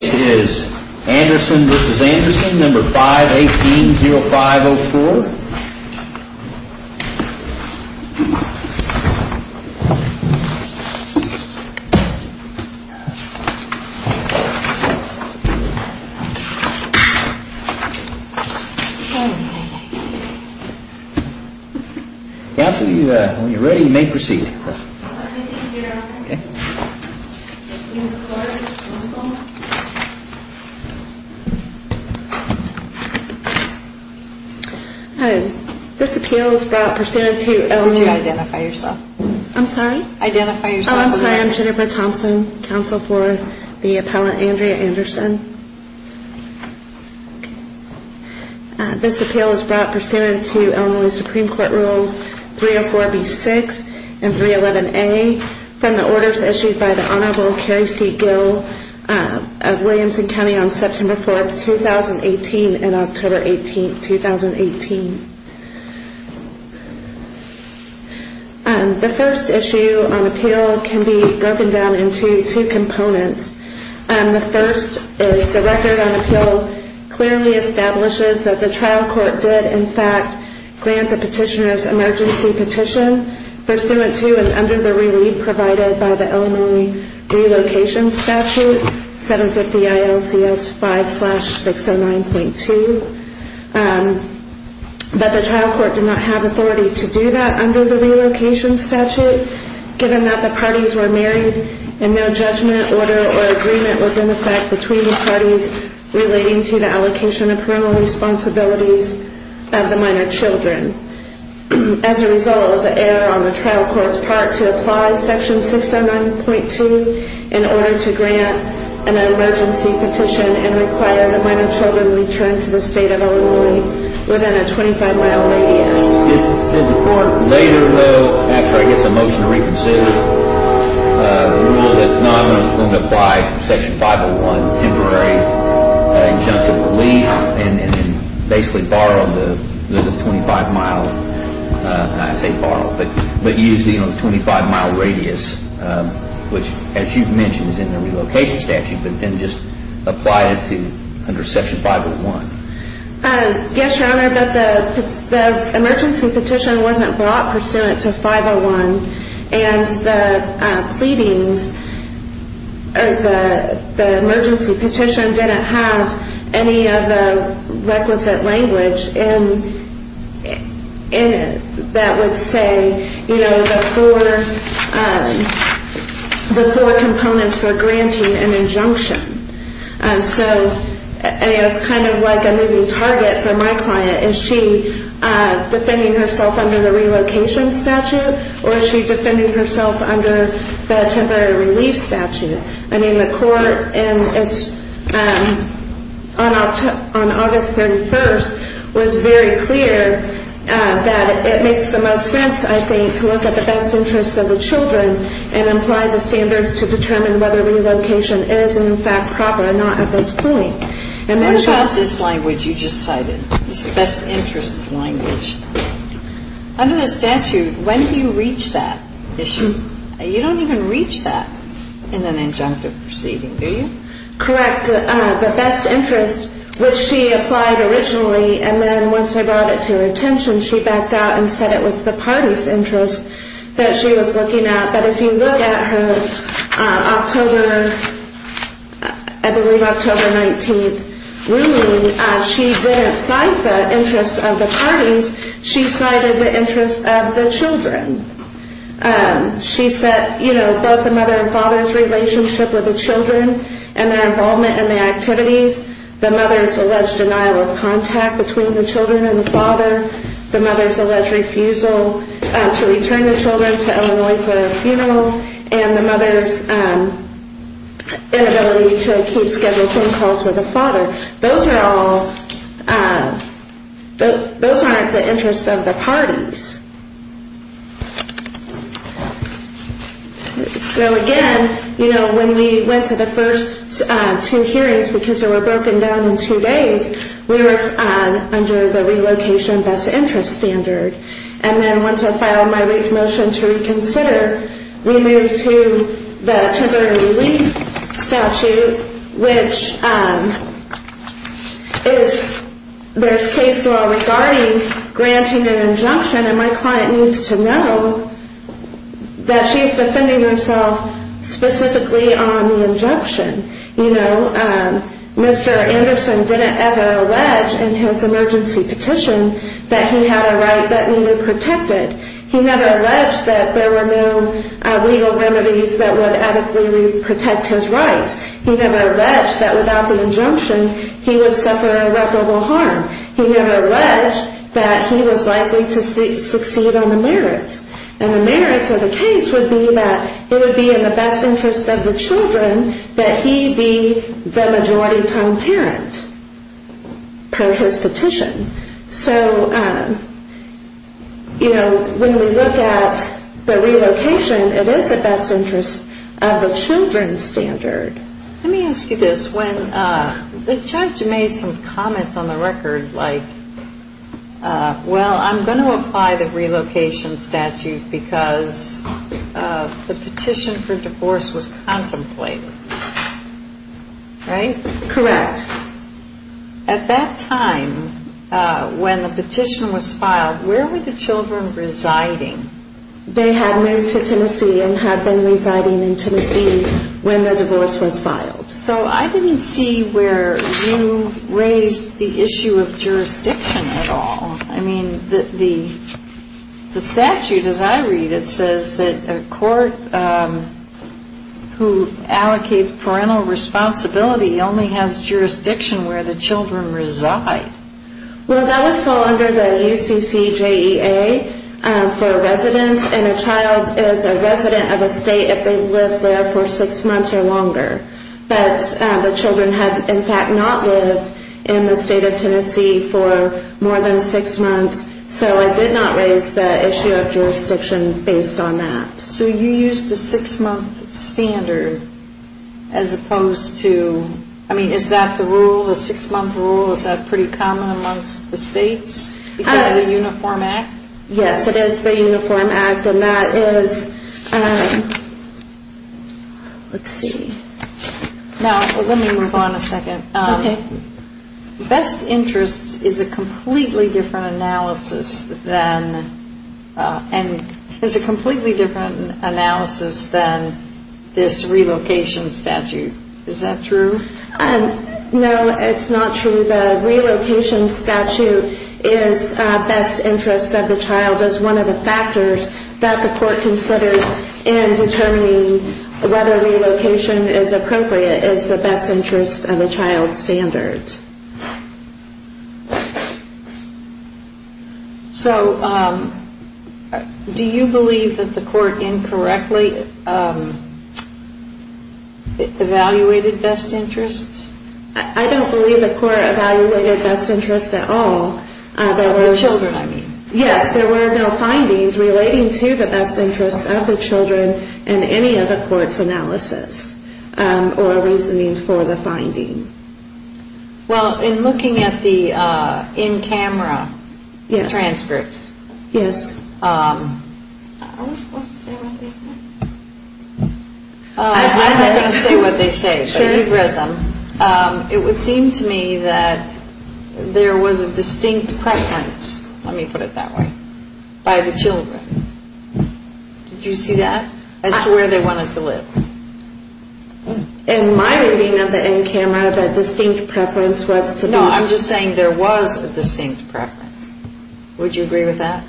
This is Anderson v. Anderson, No. 518-0504. After you are ready, you may proceed. Thank you, Your Honor. Ms. McCord, counsel. This appeal is brought pursuant to Illinois... Could you identify yourself? I'm sorry? Identify yourself. I'm sorry, I'm Jennifer Thompson, counsel for the appellant Andrea Anderson. This appeal is brought pursuant to Illinois Supreme Court Rules 304-B-6 and 311-A from the orders issued by the Honorable Carrie C. Gill of Williamson County on September 4, 2018 and October 18, 2018. The first issue on appeal can be broken down into two components. The first is the record on appeal clearly establishes that the trial court did in fact grant the petitioner's emergency petition pursuant to and under the relief provided by the Illinois Relocation Statute 750-ILCS-5-609.2. But the trial court did not have authority to do that under the relocation statute, given that the parties were married and no judgment, order, or agreement was in effect between the parties relating to the allocation of parental responsibilities of the minor children. As a result, it was an error on the trial court's part to apply section 609.2 in order to grant an emergency petition and require the minor children returned to the state of Illinois within a 25-mile radius. Did the court later, though, after I guess a motion to reconsider, rule that not only was it going to apply section 501, temporary injunctive relief, and basically borrow the 25-mile, not say borrow, but use the 25-mile radius, which as you've mentioned is in the relocation statute, but then just apply it to under section 501? Yes, Your Honor, but the emergency petition wasn't brought pursuant to 501, and the pleadings, the emergency petition didn't have any of the requisite language in it that would say, you know, the four components for granting an injunction. So it's kind of like a moving target for my client. Is she defending herself under the relocation statute, or is she defending herself under the temporary relief statute? I mean, the court on August 31st was very clear that it makes the most sense, I think, to look at the best interests of the children and apply the standards to determine whether relocation is in fact proper or not at this point. And then there's this language you just cited, this best interests language. Under the statute, when do you reach that issue? You don't even reach that in an injunctive proceeding, do you? Correct. The best interests, which she applied originally, and then once I brought it to her attention, she backed out and said it was the parties' interests that she was looking at. But if you look at her October, I believe October 19th ruling, she didn't cite the interests of the parties, she cited the interests of the children. She said, you know, both the mother and father's relationship with the children and their involvement in the activities, the mother's alleged denial of contact between the children and the father, the mother's alleged refusal to return the children to Illinois for a funeral, and the mother's inability to keep scheduled phone calls with the father. So those are all, those aren't the interests of the parties. So again, you know, when we went to the first two hearings, because they were broken down in two days, we were under the relocation best interests standard. And then once I filed my brief motion to reconsider, we moved to the children relief statute, which is, there's case law regarding granting an injunction, and my client needs to know that she's defending herself specifically on the injunction. You know, Mr. Anderson didn't ever allege in his emergency petition that he had a right that needed protected. He never alleged that there were no legal remedies that would adequately protect his rights. He never alleged that without the injunction, he would suffer irreparable harm. He never alleged that he was likely to succeed on the merits. And the merits of the case would be that it would be in the best interest of the children that he be the majority-time parent, per his petition. So, you know, when we look at the relocation, it is the best interest of the children's standard. Let me ask you this. When the judge made some comments on the record, like, well, I'm going to apply the relocation statute because the petition for divorce was contemplated, right? Correct. At that time, when the petition was filed, where were the children residing? They had moved to Tennessee and had been residing in Tennessee when the divorce was filed. So I didn't see where you raised the issue of jurisdiction at all. I mean, the statute, as I read it, says that a court who allocates parental responsibility only has jurisdiction where the children reside. Well, that would fall under the UCCJEA for residence, and a child is a resident of a state if they live there for six months or longer. But the children had, in fact, not lived in the state of Tennessee for more than six months, so I did not raise the issue of jurisdiction based on that. So you used a six-month standard as opposed to, I mean, is that the rule, a six-month rule? Is that pretty common amongst the states because of the Uniform Act? Yes, it is the Uniform Act, and that is, let's see. Now, let me move on a second. Okay. Best interests is a completely different analysis than this relocation statute. Is that true? No, it's not true. The relocation statute is best interest of the child as one of the factors that the court considers in determining whether relocation is appropriate as the best interest of a child standard. So do you believe that the court incorrectly evaluated best interests? I don't believe the court evaluated best interests at all. Of the children, I mean. Yes, there were no findings relating to the best interests of the children in any of the court's analysis or reasoning for the finding. Well, in looking at the in-camera transcripts. Yes. Yes. Are we supposed to say what they say? I'm not going to say what they say. I'm sure you've read them. It would seem to me that there was a distinct preference, let me put it that way, by the children. Did you see that? As to where they wanted to live. In my reading of the in-camera, the distinct preference was to be. No, I'm just saying there was a distinct preference. Would you agree with that?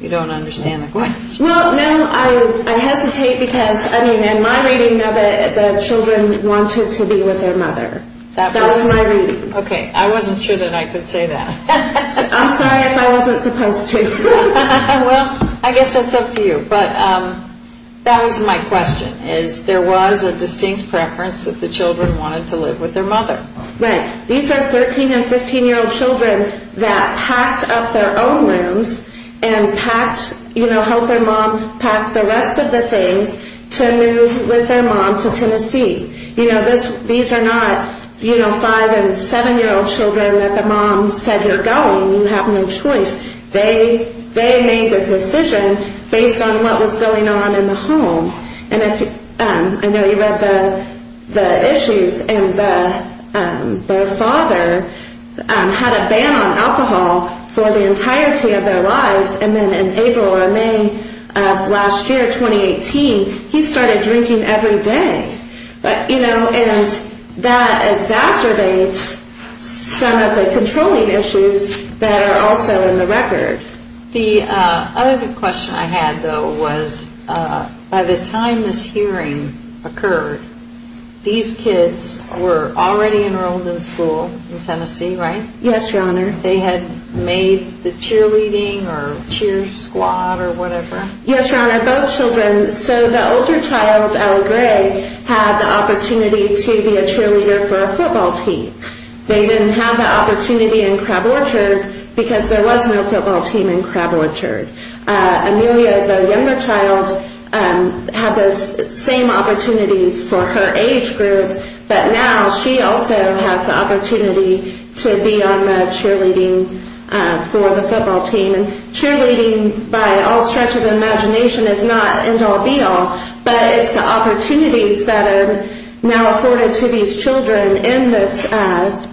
You don't understand the point. Well, no, I hesitate because, I mean, in my reading of it, the children wanted to be with their mother. That was my reading. Okay, I wasn't sure that I could say that. I'm sorry if I wasn't supposed to. Well, I guess that's up to you. But that was my question, is there was a distinct preference that the children wanted to live with their mother. These are 13 and 15-year-old children that packed up their own rooms and helped their mom pack the rest of the things to move with their mom to Tennessee. These are not 5 and 7-year-old children that the mom said, you're going, you have no choice. They made the decision based on what was going on in the home. I know you read the issues, and their father had a ban on alcohol for the entirety of their lives. And then in April or May of last year, 2018, he started drinking every day. And that exacerbates some of the controlling issues that are also in the record. The other question I had, though, was by the time this hearing occurred, these kids were already enrolled in school in Tennessee, right? Yes, Your Honor. They had made the cheerleading or cheer squad or whatever? Yes, Your Honor, both children. So the older child, Allie Gray, had the opportunity to be a cheerleader for a football team. They didn't have the opportunity in Crab Orchard because there was no football team in Crab Orchard. Amelia, the younger child, had the same opportunities for her age group, but now she also has the opportunity to be on the cheerleading for the football team. And cheerleading, by all stretch of the imagination, is not end-all, be-all. But it's the opportunities that are now afforded to these children in this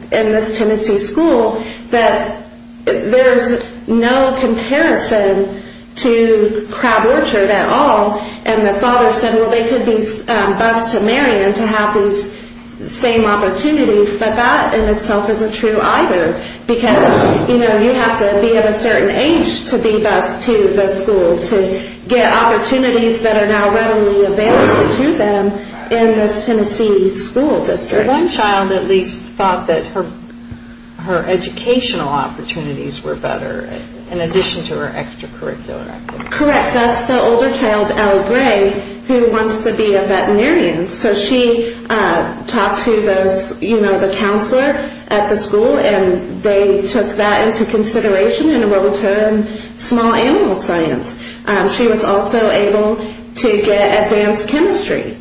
Tennessee school that there's no comparison to Crab Orchard at all. And the father said, well, they could be bused to Marion to have these same opportunities. But that in itself isn't true either because, you know, you have to be of a certain age to be bused to the school to get opportunities that are now readily available to them in this Tennessee school district. But one child at least thought that her educational opportunities were better in addition to her extracurricular activities. Correct. That's the older child, Allie Gray, who wants to be a veterinarian. So she talked to the counselor at the school and they took that into consideration and enrolled her in small animal science. She was also able to get advanced chemistry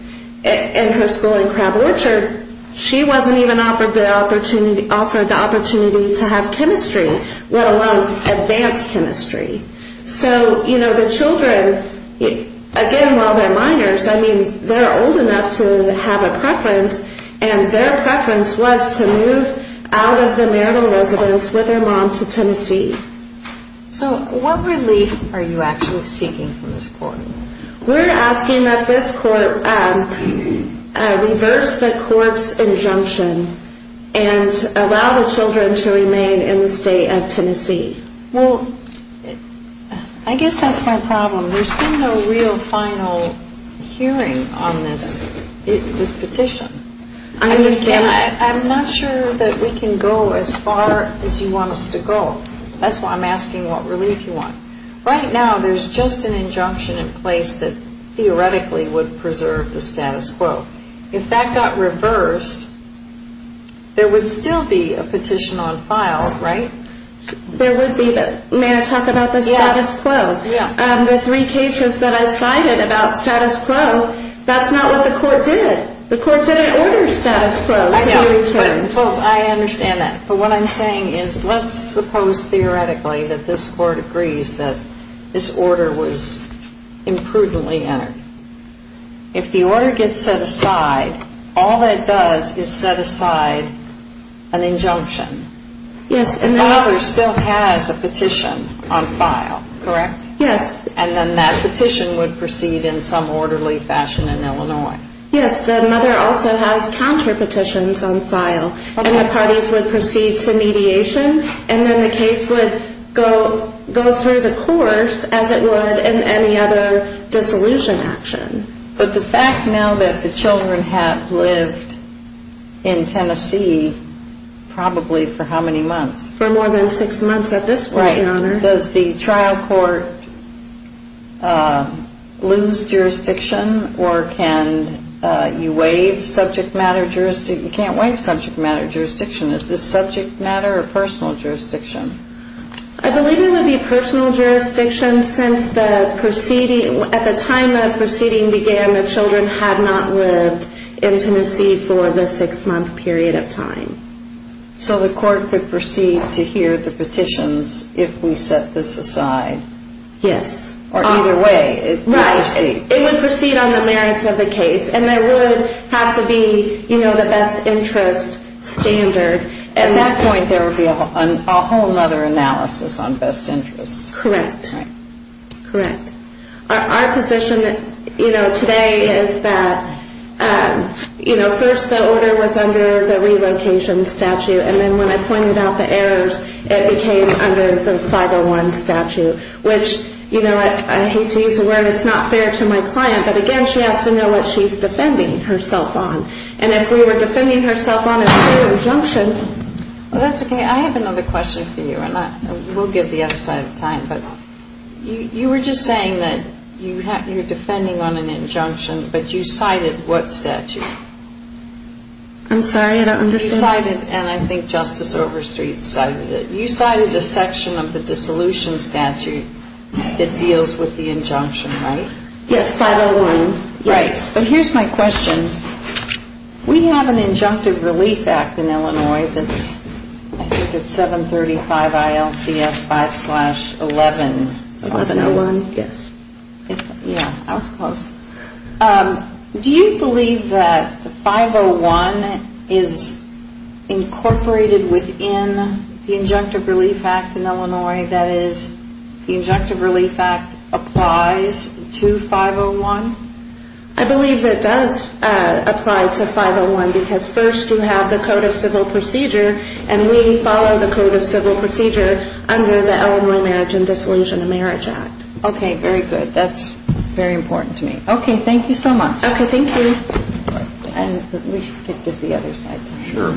in her school in Crab Orchard. She wasn't even offered the opportunity to have chemistry, let alone advanced chemistry. So, you know, the children, again, while they're minors, I mean, they're old enough to have a preference. And their preference was to move out of the marital residence with their mom to Tennessee. So what relief are you actually seeking from this court? We're asking that this court reverse the court's injunction and allow the children to remain in the state of Tennessee. Well, I guess that's my problem. There's been no real final hearing on this petition. I understand. I'm not sure that we can go as far as you want us to go. That's why I'm asking what relief you want. Right now, there's just an injunction in place that theoretically would preserve the status quo. If that got reversed, there would still be a petition on file, right? There would be. May I talk about the status quo? Yeah. The three cases that I cited about status quo, that's not what the court did. The court didn't order status quo to be returned. I understand that. But what I'm saying is let's suppose theoretically that this court agrees that this order was imprudently entered. If the order gets set aside, all that it does is set aside an injunction. Yes. The mother still has a petition on file, correct? Yes. And then that petition would proceed in some orderly fashion in Illinois. Yes. The mother also has counter petitions on file. And the parties would proceed to mediation. And then the case would go through the course as it would in any other dissolution action. But the fact now that the children have lived in Tennessee probably for how many months? For more than six months at this point, Your Honor. Right. Does the trial court lose jurisdiction or can you waive subject matter jurisdiction? You can't waive subject matter jurisdiction. Is this subject matter or personal jurisdiction? I believe it would be personal jurisdiction since at the time the proceeding began, the children had not lived in Tennessee for the six-month period of time. So the court would proceed to hear the petitions if we set this aside? Yes. Or either way? Right. It would proceed on the merits of the case. And there would have to be the best interest standard. At that point, there would be a whole other analysis on best interest. Correct. Right. Correct. Our position, you know, today is that, you know, first the order was under the relocation statute, and then when I pointed out the errors, it became under the 501 statute, which, you know, I hate to use the word it's not fair to my client, but again, she has to know what she's defending herself on. And if we were defending herself on a fair injunction. Well, that's okay. I have another question for you, and we'll give the other side of the time. But you were just saying that you're defending on an injunction, but you cited what statute? I'm sorry, I don't understand. You cited, and I think Justice Overstreet cited it, you cited a section of the dissolution statute that deals with the injunction, right? Yes, 501. Right. But here's my question. We have an injunctive relief act in Illinois that's, I think it's 735 ILCS 5 slash 11. 1101, yes. Yeah, I was close. Do you believe that the 501 is incorporated within the injunctive relief act in Illinois, that is the injunctive relief act applies to 501? I believe it does apply to 501 because first you have the code of civil procedure, and we follow the code of civil procedure under the Illinois Marriage and Dissolution of Marriage Act. Okay, very good. That's very important to me. Okay, thank you so much. Okay, thank you. And we should give the other side time. Sure.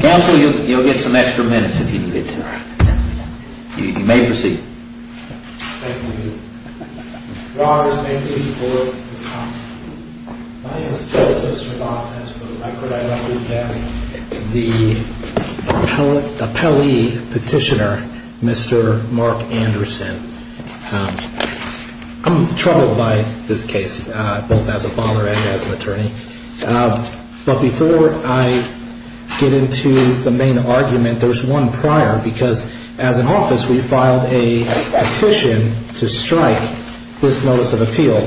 Counsel, you'll get some extra minutes if you need it. You may proceed. Thank you. Your Honors, may it please the Court. It's possible. My name is Joe Sosrovoff, and for the record, I represent the appellee petitioner, Mr. Mark Anderson. I'm troubled by this case, both as a father and as an attorney. But before I get into the main argument, there's one prior. Because as an office, we filed a petition to strike this notice of appeal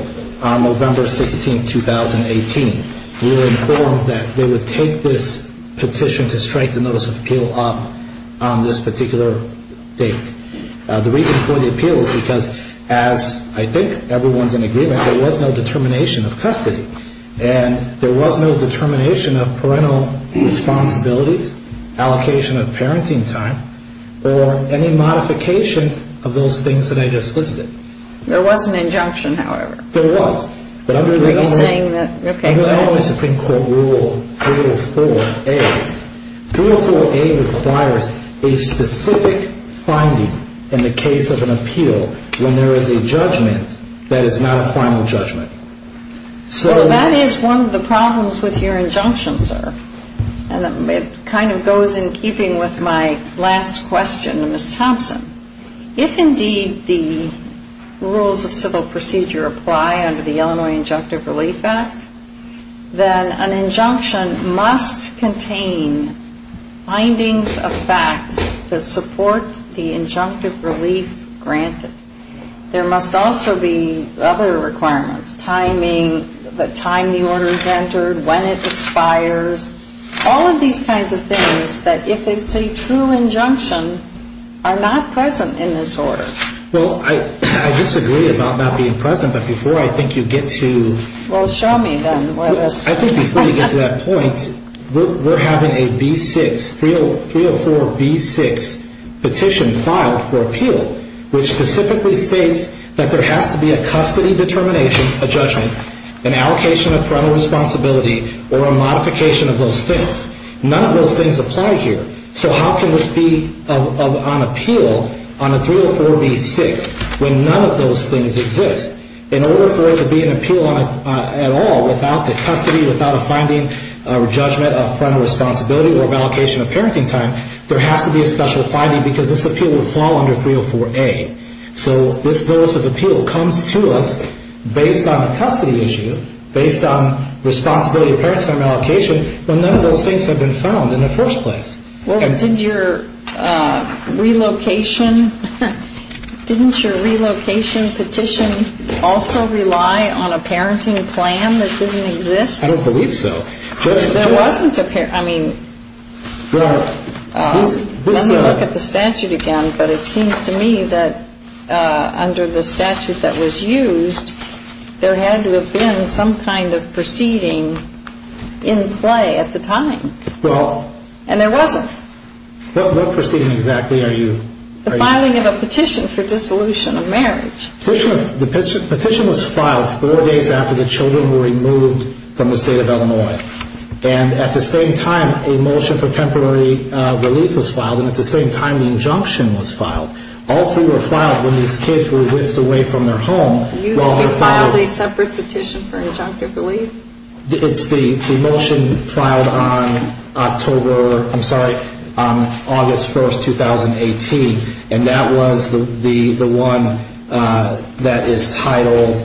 on November 16, 2018. We were informed that they would take this petition to strike the notice of appeal up on this particular date. The reason for the appeal is because, as I think everyone's in agreement, there was no determination of custody. And there was no determination of parental responsibilities, allocation of parenting time, or any modification of those things that I just listed. There was an injunction, however. There was. Are you saying that, okay, go ahead. Under Illinois Supreme Court Rule 304A, 304A requires a specific finding in the case of an appeal when there is a judgment that is not a final judgment. So that is one of the problems with your injunction, sir. And it kind of goes in keeping with my last question to Ms. Thompson. If, indeed, the rules of civil procedure apply under the Illinois Injunctive Relief Act, then an injunction must contain findings of fact that support the injunctive relief granted. There must also be other requirements, timing, the time the order is entered, when it expires. All of these kinds of things that, if it's a true injunction, are not present in this order. Well, I disagree about not being present, but before I think you get to... Well, show me, then. I think before you get to that point, we're having a B6, 304B6 petition filed for appeal, which specifically states that there has to be a custody determination, a judgment, an allocation of parental responsibility, or a modification of those things. None of those things apply here. So how can this be on appeal on a 304B6 when none of those things exist? In order for it to be an appeal at all, without the custody, without a finding, a judgment, a parental responsibility, or an allocation of parenting time, there has to be a special finding because this appeal would fall under 304A. So this notice of appeal comes to us based on a custody issue, based on responsibility of parenting and allocation, but none of those things have been found in the first place. Well, did your relocation, didn't your relocation petition also rely on a parenting plan that didn't exist? I don't believe so. There wasn't a parent... I mean, let me look at the statute again, but it seems to me that under the statute that was used, there had to have been some kind of proceeding in play at the time. Well... And there wasn't. What proceeding exactly are you... The filing of a petition for dissolution of marriage. The petition was filed four days after the children were removed from the state of Illinois. And at the same time, a motion for temporary relief was filed, and at the same time, the injunction was filed. All three were filed when these kids were whisked away from their home. You filed a separate petition for injunctive relief? It's the motion filed on October... I'm sorry, on August 1st, 2018, and that was the one that is titled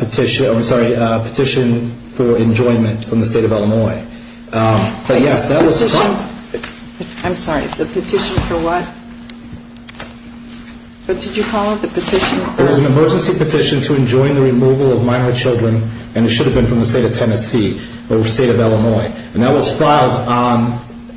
petition... I'm sorry, petition for enjoyment from the state of Illinois. But yes, that was... Petition... I'm sorry, the petition for what? But did you call it the petition... There was an emergency petition to enjoin the removal of minor children, and it should have been from the state of Tennessee or the state of Illinois. And that was filed on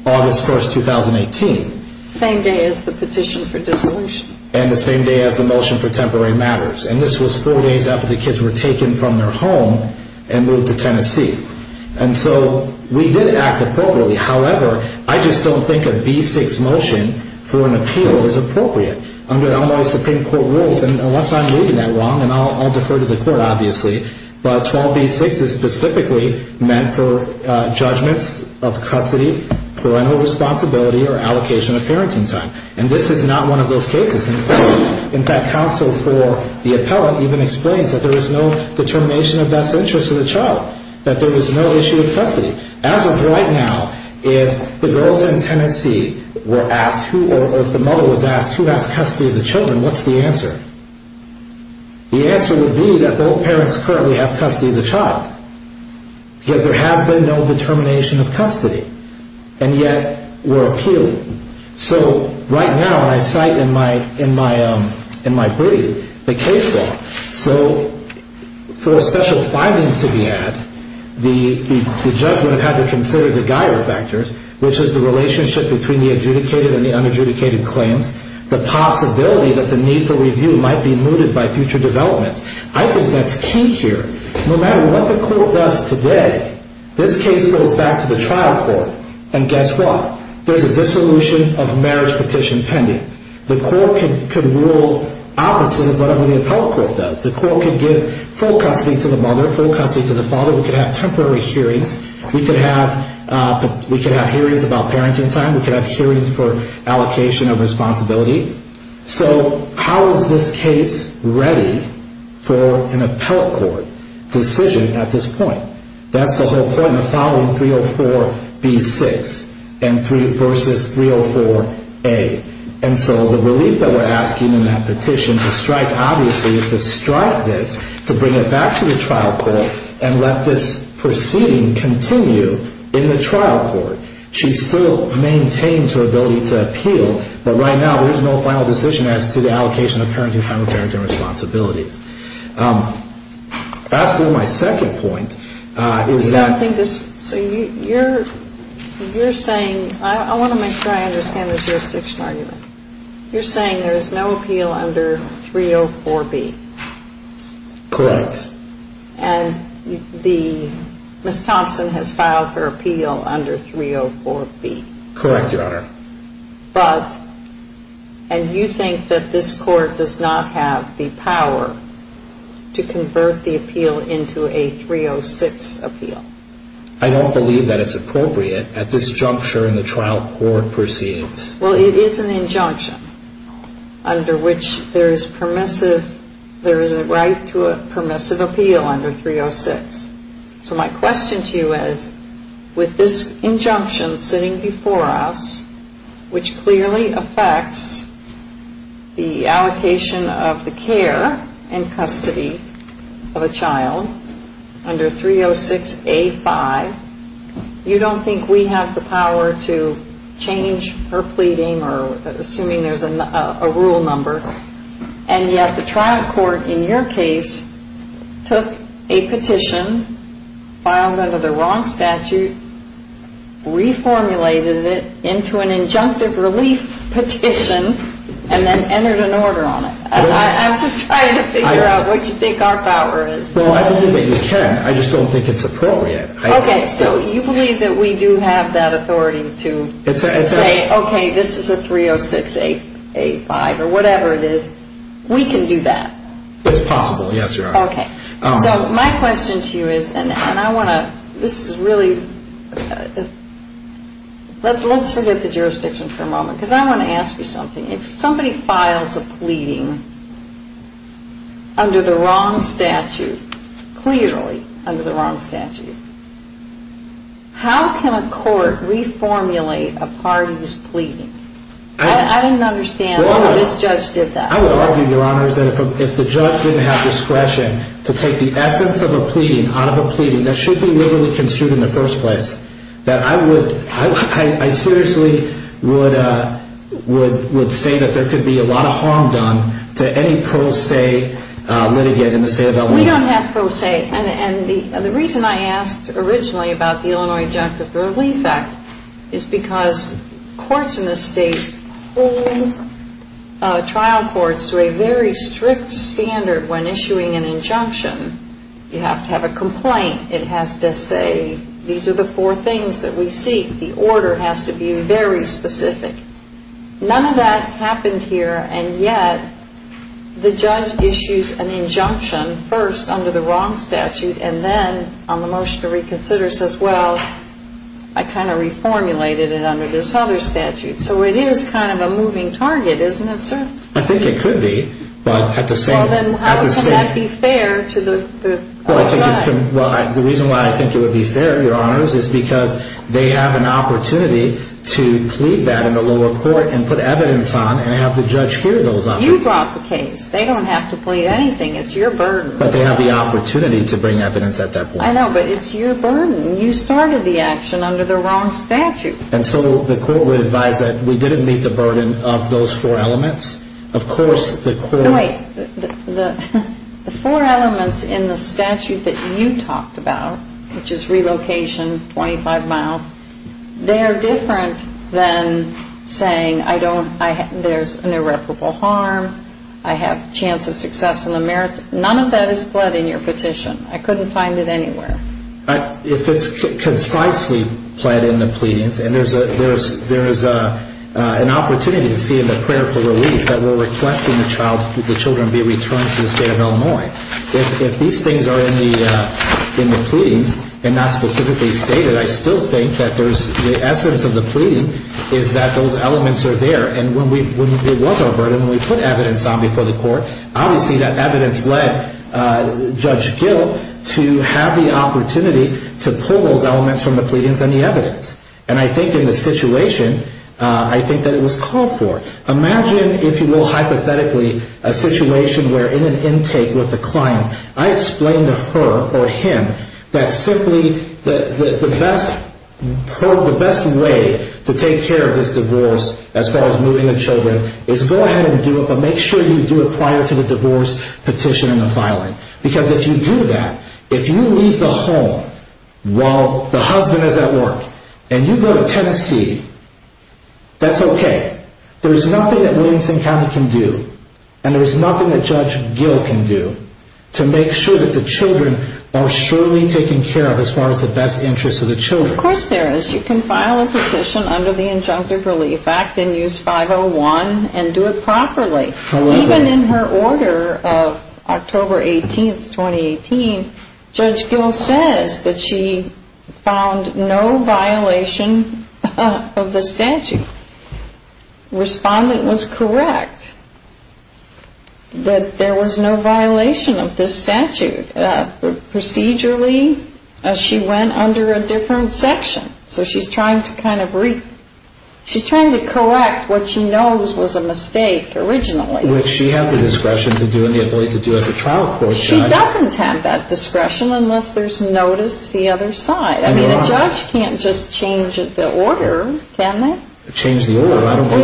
August 1st, 2018. Same day as the petition for dissolution. And the same day as the motion for temporary matters. And this was four days after the kids were taken from their home and moved to Tennessee. And so we did act appropriately. However, I just don't think a B6 motion for an appeal is appropriate under Illinois Supreme Court rules. Unless I'm reading that wrong, and I'll defer to the court, obviously. But 12B6 is specifically meant for judgments of custody, parental responsibility, or allocation of parenting time. And this is not one of those cases. In fact, counsel for the appellate even explains that there is no determination of best interest of the child. That there is no issue of custody. As of right now, if the girls in Tennessee were asked, or if the mother was asked, who has custody of the children, what's the answer? The answer would be that both parents currently have custody of the child. Because there has been no determination of custody. And yet, we're appealing. So, right now, when I cite in my brief, the case law. So, for a special finding to be had, the judge would have had to consider the Geier factors. Which is the relationship between the adjudicated and the unadjudicated claims. The possibility that the need for review might be mooted by future developments. I think that's key here. No matter what the court does today, this case goes back to the trial court. And guess what? There's a dissolution of marriage petition pending. The court could rule opposite of whatever the appellate court does. The court could give full custody to the mother, full custody to the father. We could have temporary hearings. We could have hearings about parenting time. We could have hearings for allocation of responsibility. So, how is this case ready for an appellate court decision at this point? That's the whole point of filing 304B6 versus 304A. And so, the relief that we're asking in that petition to strike, obviously, is to strike this, to bring it back to the trial court, and let this proceeding continue in the trial court. She still maintains her ability to appeal. But right now, there's no final decision as to the allocation of parenting time or parenting responsibilities. As for my second point, is that... So, you're saying, I want to make sure I understand this jurisdiction argument. You're saying there's no appeal under 304B? Correct. And Ms. Thompson has filed her appeal under 304B? Correct, Your Honor. But, and you think that this court does not have the power to convert the appeal into a 306 appeal? I don't believe that it's appropriate at this juncture in the trial court proceedings. Well, it is an injunction under which there is permissive, there is a right to a permissive appeal under 306. So, my question to you is, with this injunction sitting before us, which clearly affects the allocation of the care and custody of a child under 306A5, you don't think we have the power to change her pleading or assuming there's a rule number? And yet, the trial court, in your case, took a petition filed under the wrong statute, reformulated it into an injunctive relief petition, and then entered an order on it. I'm just trying to figure out what you think our power is. Well, I believe that you can. I just don't think it's appropriate. Okay, so you believe that we do have that authority to say, okay, this is a 306A5 or whatever it is. We can do that. It's possible, yes, Your Honor. Okay, so my question to you is, and I want to, this is really, let's forget the jurisdiction for a moment, because I want to ask you something. If somebody files a pleading under the wrong statute, clearly under the wrong statute, how can a court reformulate a party's pleading? I didn't understand why this judge did that. I would argue, Your Honor, is that if the judge didn't have discretion to take the essence of a pleading out of a pleading that should be literally construed in the first place, that I seriously would say that there could be a lot of harm done to any pro se litigant in the state of Illinois. We don't have pro se, and the reason I asked originally about the Illinois Injunctive Relief Act is because courts in the state hold trial courts to a very strict standard when issuing an injunction. You have to have a complaint. It has to say these are the four things that we seek. The order has to be very specific. None of that happened here, and yet the judge issues an injunction first under the wrong statute, and then on the motion to reconsider says, well, I kind of reformulated it under this other statute. So it is kind of a moving target, isn't it, sir? I think it could be. Well, then how can that be fair to the judge? Well, the reason why I think it would be fair, Your Honors, is because they have an opportunity to plead that in the lower court and put evidence on and have the judge hear those others. You brought the case. They don't have to plead anything. It's your burden. But they have the opportunity to bring evidence at that point. I know, but it's your burden. You started the action under the wrong statute. And so the court would advise that we didn't meet the burden of those four elements. Of course, the court... No, wait. The four elements in the statute that you talked about, which is relocation, 25 miles, they're different than saying there's an irreparable harm, I have a chance of success in the merits. None of that is pled in your petition. I couldn't find it anywhere. If it's concisely pled in the pleadings, and there is an opportunity to see in the prayer for relief that we're requesting the child, the children be returned to the State of Illinois, if these things are in the pleadings and not specifically stated, I still think that there's the essence of the pleading is that those elements are there. Obviously, that evidence led Judge Gill to have the opportunity to pull those elements from the pleadings and the evidence. And I think in this situation, I think that it was called for. Imagine, if you will, hypothetically, a situation where in an intake with a client, I explained to her or him that simply the best way to take care of this divorce as far as moving the children is go ahead and do it, but make sure you do it prior to the divorce petition and the filing. Because if you do that, if you leave the home while the husband is at work, and you go to Tennessee, that's okay. There's nothing that Williamson County can do, and there's nothing that Judge Gill can do, to make sure that the children are surely taken care of as far as the best interest of the children. Of course there is. You can file a petition under the Injunctive Relief Act and use 501 and do it properly. Even in her order of October 18, 2018, Judge Gill says that she found no violation of the statute. Respondent was correct that there was no violation of this statute. Procedurally, she went under a different section. So she's trying to kind of correct what she knows was a mistake originally. Which she has the discretion to do and the ability to do as a trial court judge. She doesn't have that discretion unless there's notice to the other side. I mean, a judge can't just change the order, can they? Change the order.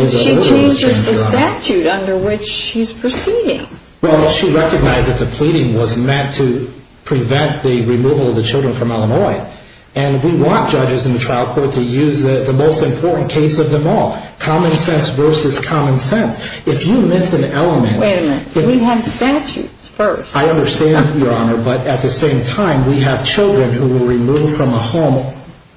She changes the statute under which she's proceeding. Well, she recognized that the pleading was meant to prevent the removal of the children from Illinois. And we want judges in the trial court to use the most important case of them all. Common sense versus common sense. If you miss an element... Wait a minute. We have statutes first. I understand, Your Honor. But at the same time, we have children who were removed from a home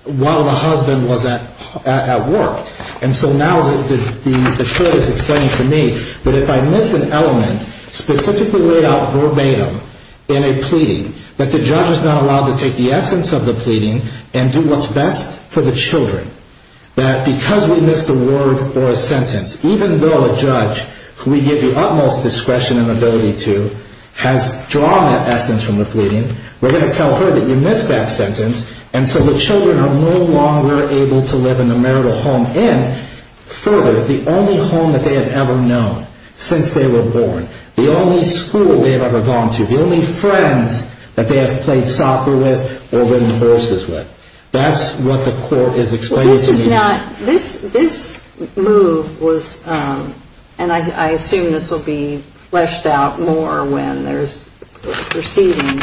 while the husband was at work. And so now the court is explaining to me that if I miss an element specifically laid out verbatim in a pleading, that the judge is not allowed to take the essence of the pleading and do what's best for the children. That because we missed a word or a sentence, even though a judge, who we give the utmost discretion and ability to, has drawn that essence from the pleading, we're going to tell her that you missed that sentence. And so the children are no longer able to live in a marital home. And further, the only home that they have ever known since they were born, the only school they've ever gone to, the only friends that they have played soccer with or ridden horses with. That's what the court is explaining to me. This is not... This move was... And I assume this will be fleshed out more when there's proceeding.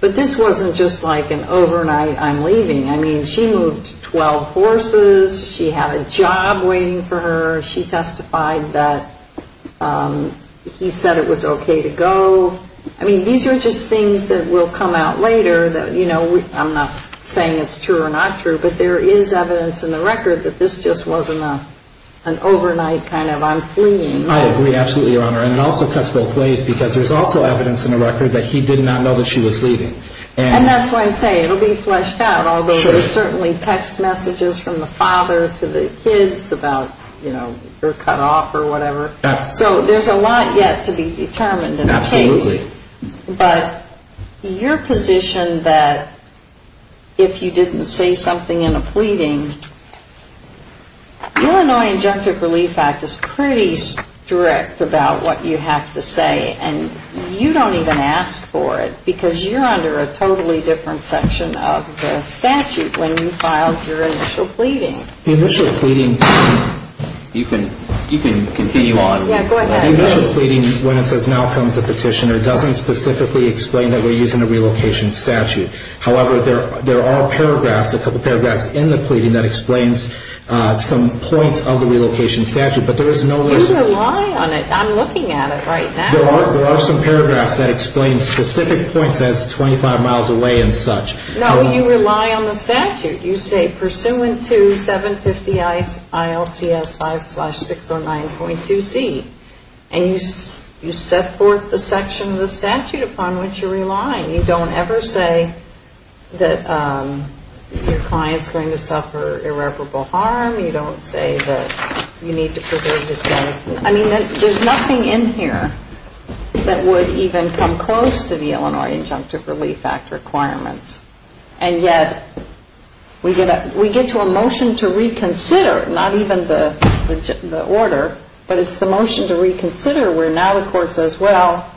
But this wasn't just like an overnight I'm leaving. I mean, she moved 12 horses. She had a job waiting for her. She testified that he said it was okay to go. I mean, these are just things that will come out later that, you know, I'm not saying it's true or not true, but there is evidence in the record that this just wasn't an overnight kind of I'm fleeing. I agree absolutely, Your Honor. And it also cuts both ways because there's also evidence in the record that he did not know that she was leaving. And that's why I say it will be fleshed out, although there's certainly text messages from the father to the kids about, you know, you're cut off or whatever. So there's a lot yet to be determined in the case. Absolutely. But your position that if you didn't say something in a pleading, The Illinois Injunctive Relief Act is pretty strict about what you have to say, and you don't even ask for it because you're under a totally different section of the statute when you filed your initial pleading. The initial pleading, you can continue on. Yeah, go ahead. The initial pleading, when it says now comes the petitioner, doesn't specifically explain that we're using a relocation statute. However, there are paragraphs, a couple paragraphs in the pleading that explains some points of the relocation statute. But there is no reason to You rely on it. I'm looking at it right now. There are some paragraphs that explain specific points as 25 miles away and such. No, you rely on the statute. You say, pursuant to 750 ILCS 5-609.2C. And you set forth the section of the statute upon which you're relying. You don't ever say that your client's going to suffer irreparable harm. You don't say that you need to preserve his status. I mean, there's nothing in here that would even come close to the Illinois Injunctive Relief Act requirements. And yet, we get to a motion to reconsider, not even the order, but it's the motion to reconsider where now the court says, well,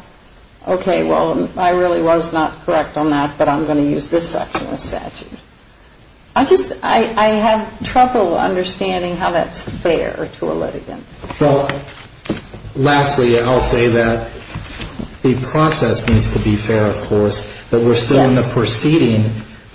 okay, well, I really was not correct on that, but I'm going to use this section of the statute. I just, I have trouble understanding how that's fair to a litigant. Well, lastly, I'll say that the process needs to be fair, of course, but we're still in the proceeding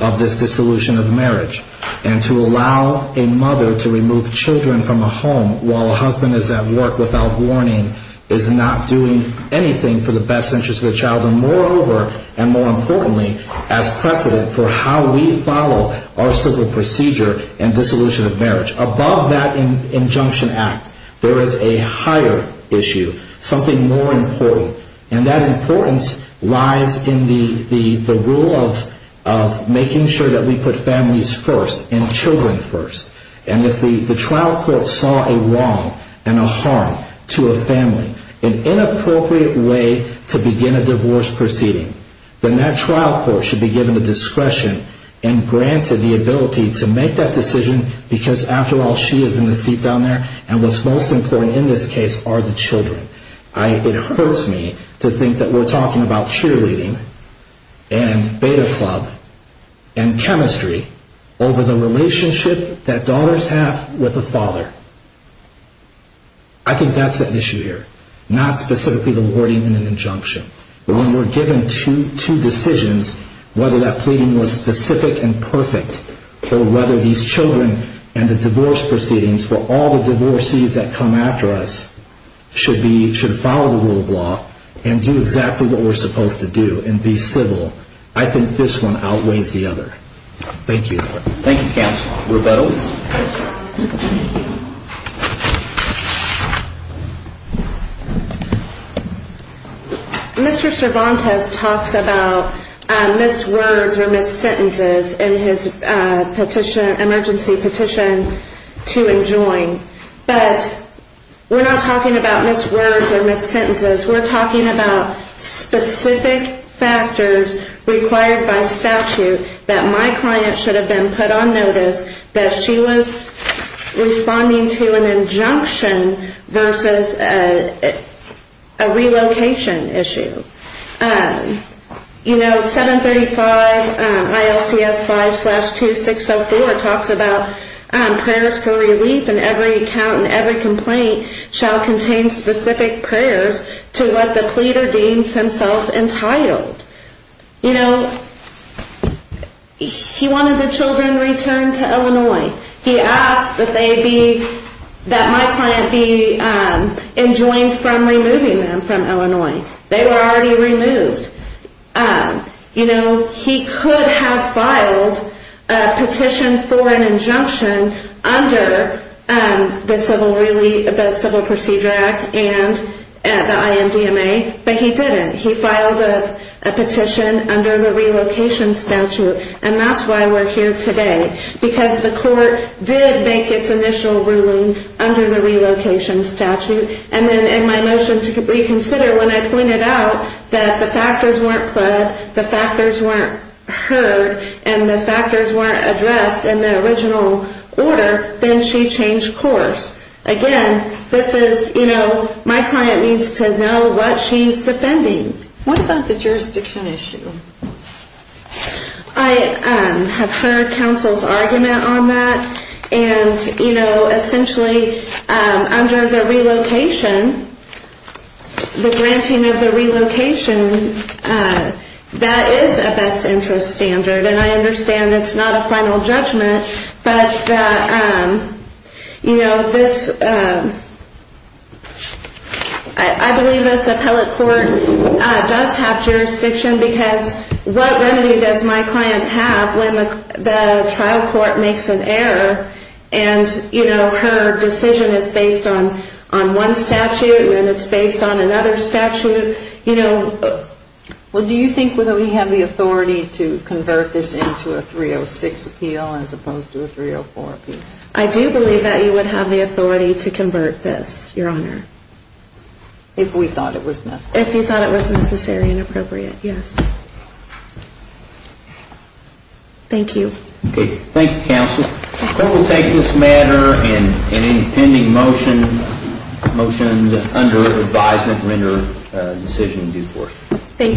of this dissolution of marriage. And to allow a mother to remove children from a home while a husband is at work without warning is not doing anything for the best interest of the child. And moreover, and more importantly, as precedent for how we follow our civil procedure in dissolution of marriage. Above that injunction act, there is a higher issue, something more important. And that importance lies in the rule of making sure that we put families first and children first. And if the trial court saw a wrong and a harm to a family, an inappropriate way to begin a divorce proceeding, then that trial court should be given the discretion and granted the ability to make that decision because after all, she is in the seat down there and what's most important in this case are the children. It hurts me to think that we're talking about cheerleading and beta club and chemistry over the relationship that daughters have with the father. I think that's the issue here, not specifically the wording in an injunction. But when we're given two decisions, whether that pleading was specific and perfect or whether these children and the divorce proceedings for all the divorcees that come after us should follow the rule of law and do exactly what we're supposed to do and be civil, I think this one outweighs the other. Thank you. Thank you, counsel. Roberto. Mr. Cervantes talks about missed words or missed sentences in his emergency petition to enjoin. But we're not talking about missed words or missed sentences. We're talking about specific factors required by statute that my client should have been put on notice that she was responding to an injunction versus a relocation issue. You know, 735 ILCS 5-2604 talks about prayers for relief and every account and every complaint shall contain specific prayers to what the pleader deems himself entitled. You know, he wanted the children returned to Illinois. He asked that they be, that my client be enjoined from removing them from Illinois. They were already removed. You know, he could have filed a petition for an injunction under the Civil Procedure Act and the IMDMA, but he didn't. He filed a petition under the relocation statute, and that's why we're here today, because the court did make its initial ruling under the relocation statute. And then in my motion to reconsider, when I pointed out that the factors weren't put, the factors weren't heard, and the factors weren't addressed in the original order, then she changed course. Again, this is, you know, my client needs to know what she's defending. What about the jurisdiction issue? I have heard counsel's argument on that. And, you know, essentially under the relocation, the granting of the relocation, that is a best interest standard. And I understand it's not a final judgment, but, you know, this, I believe this appellate court does have jurisdiction, because what remedy does my client have when the trial court makes an error and, you know, her decision is based on one statute and it's based on another statute, you know? Well, do you think we have the authority to convert this into a 306 appeal as opposed to a 304 appeal? I do believe that you would have the authority to convert this, Your Honor. If we thought it was necessary. If you thought it was necessary and appropriate, yes. Thank you. Okay. Thank you, counsel. I will take this matter and any pending motions under advisement render decision due forth. Thank you.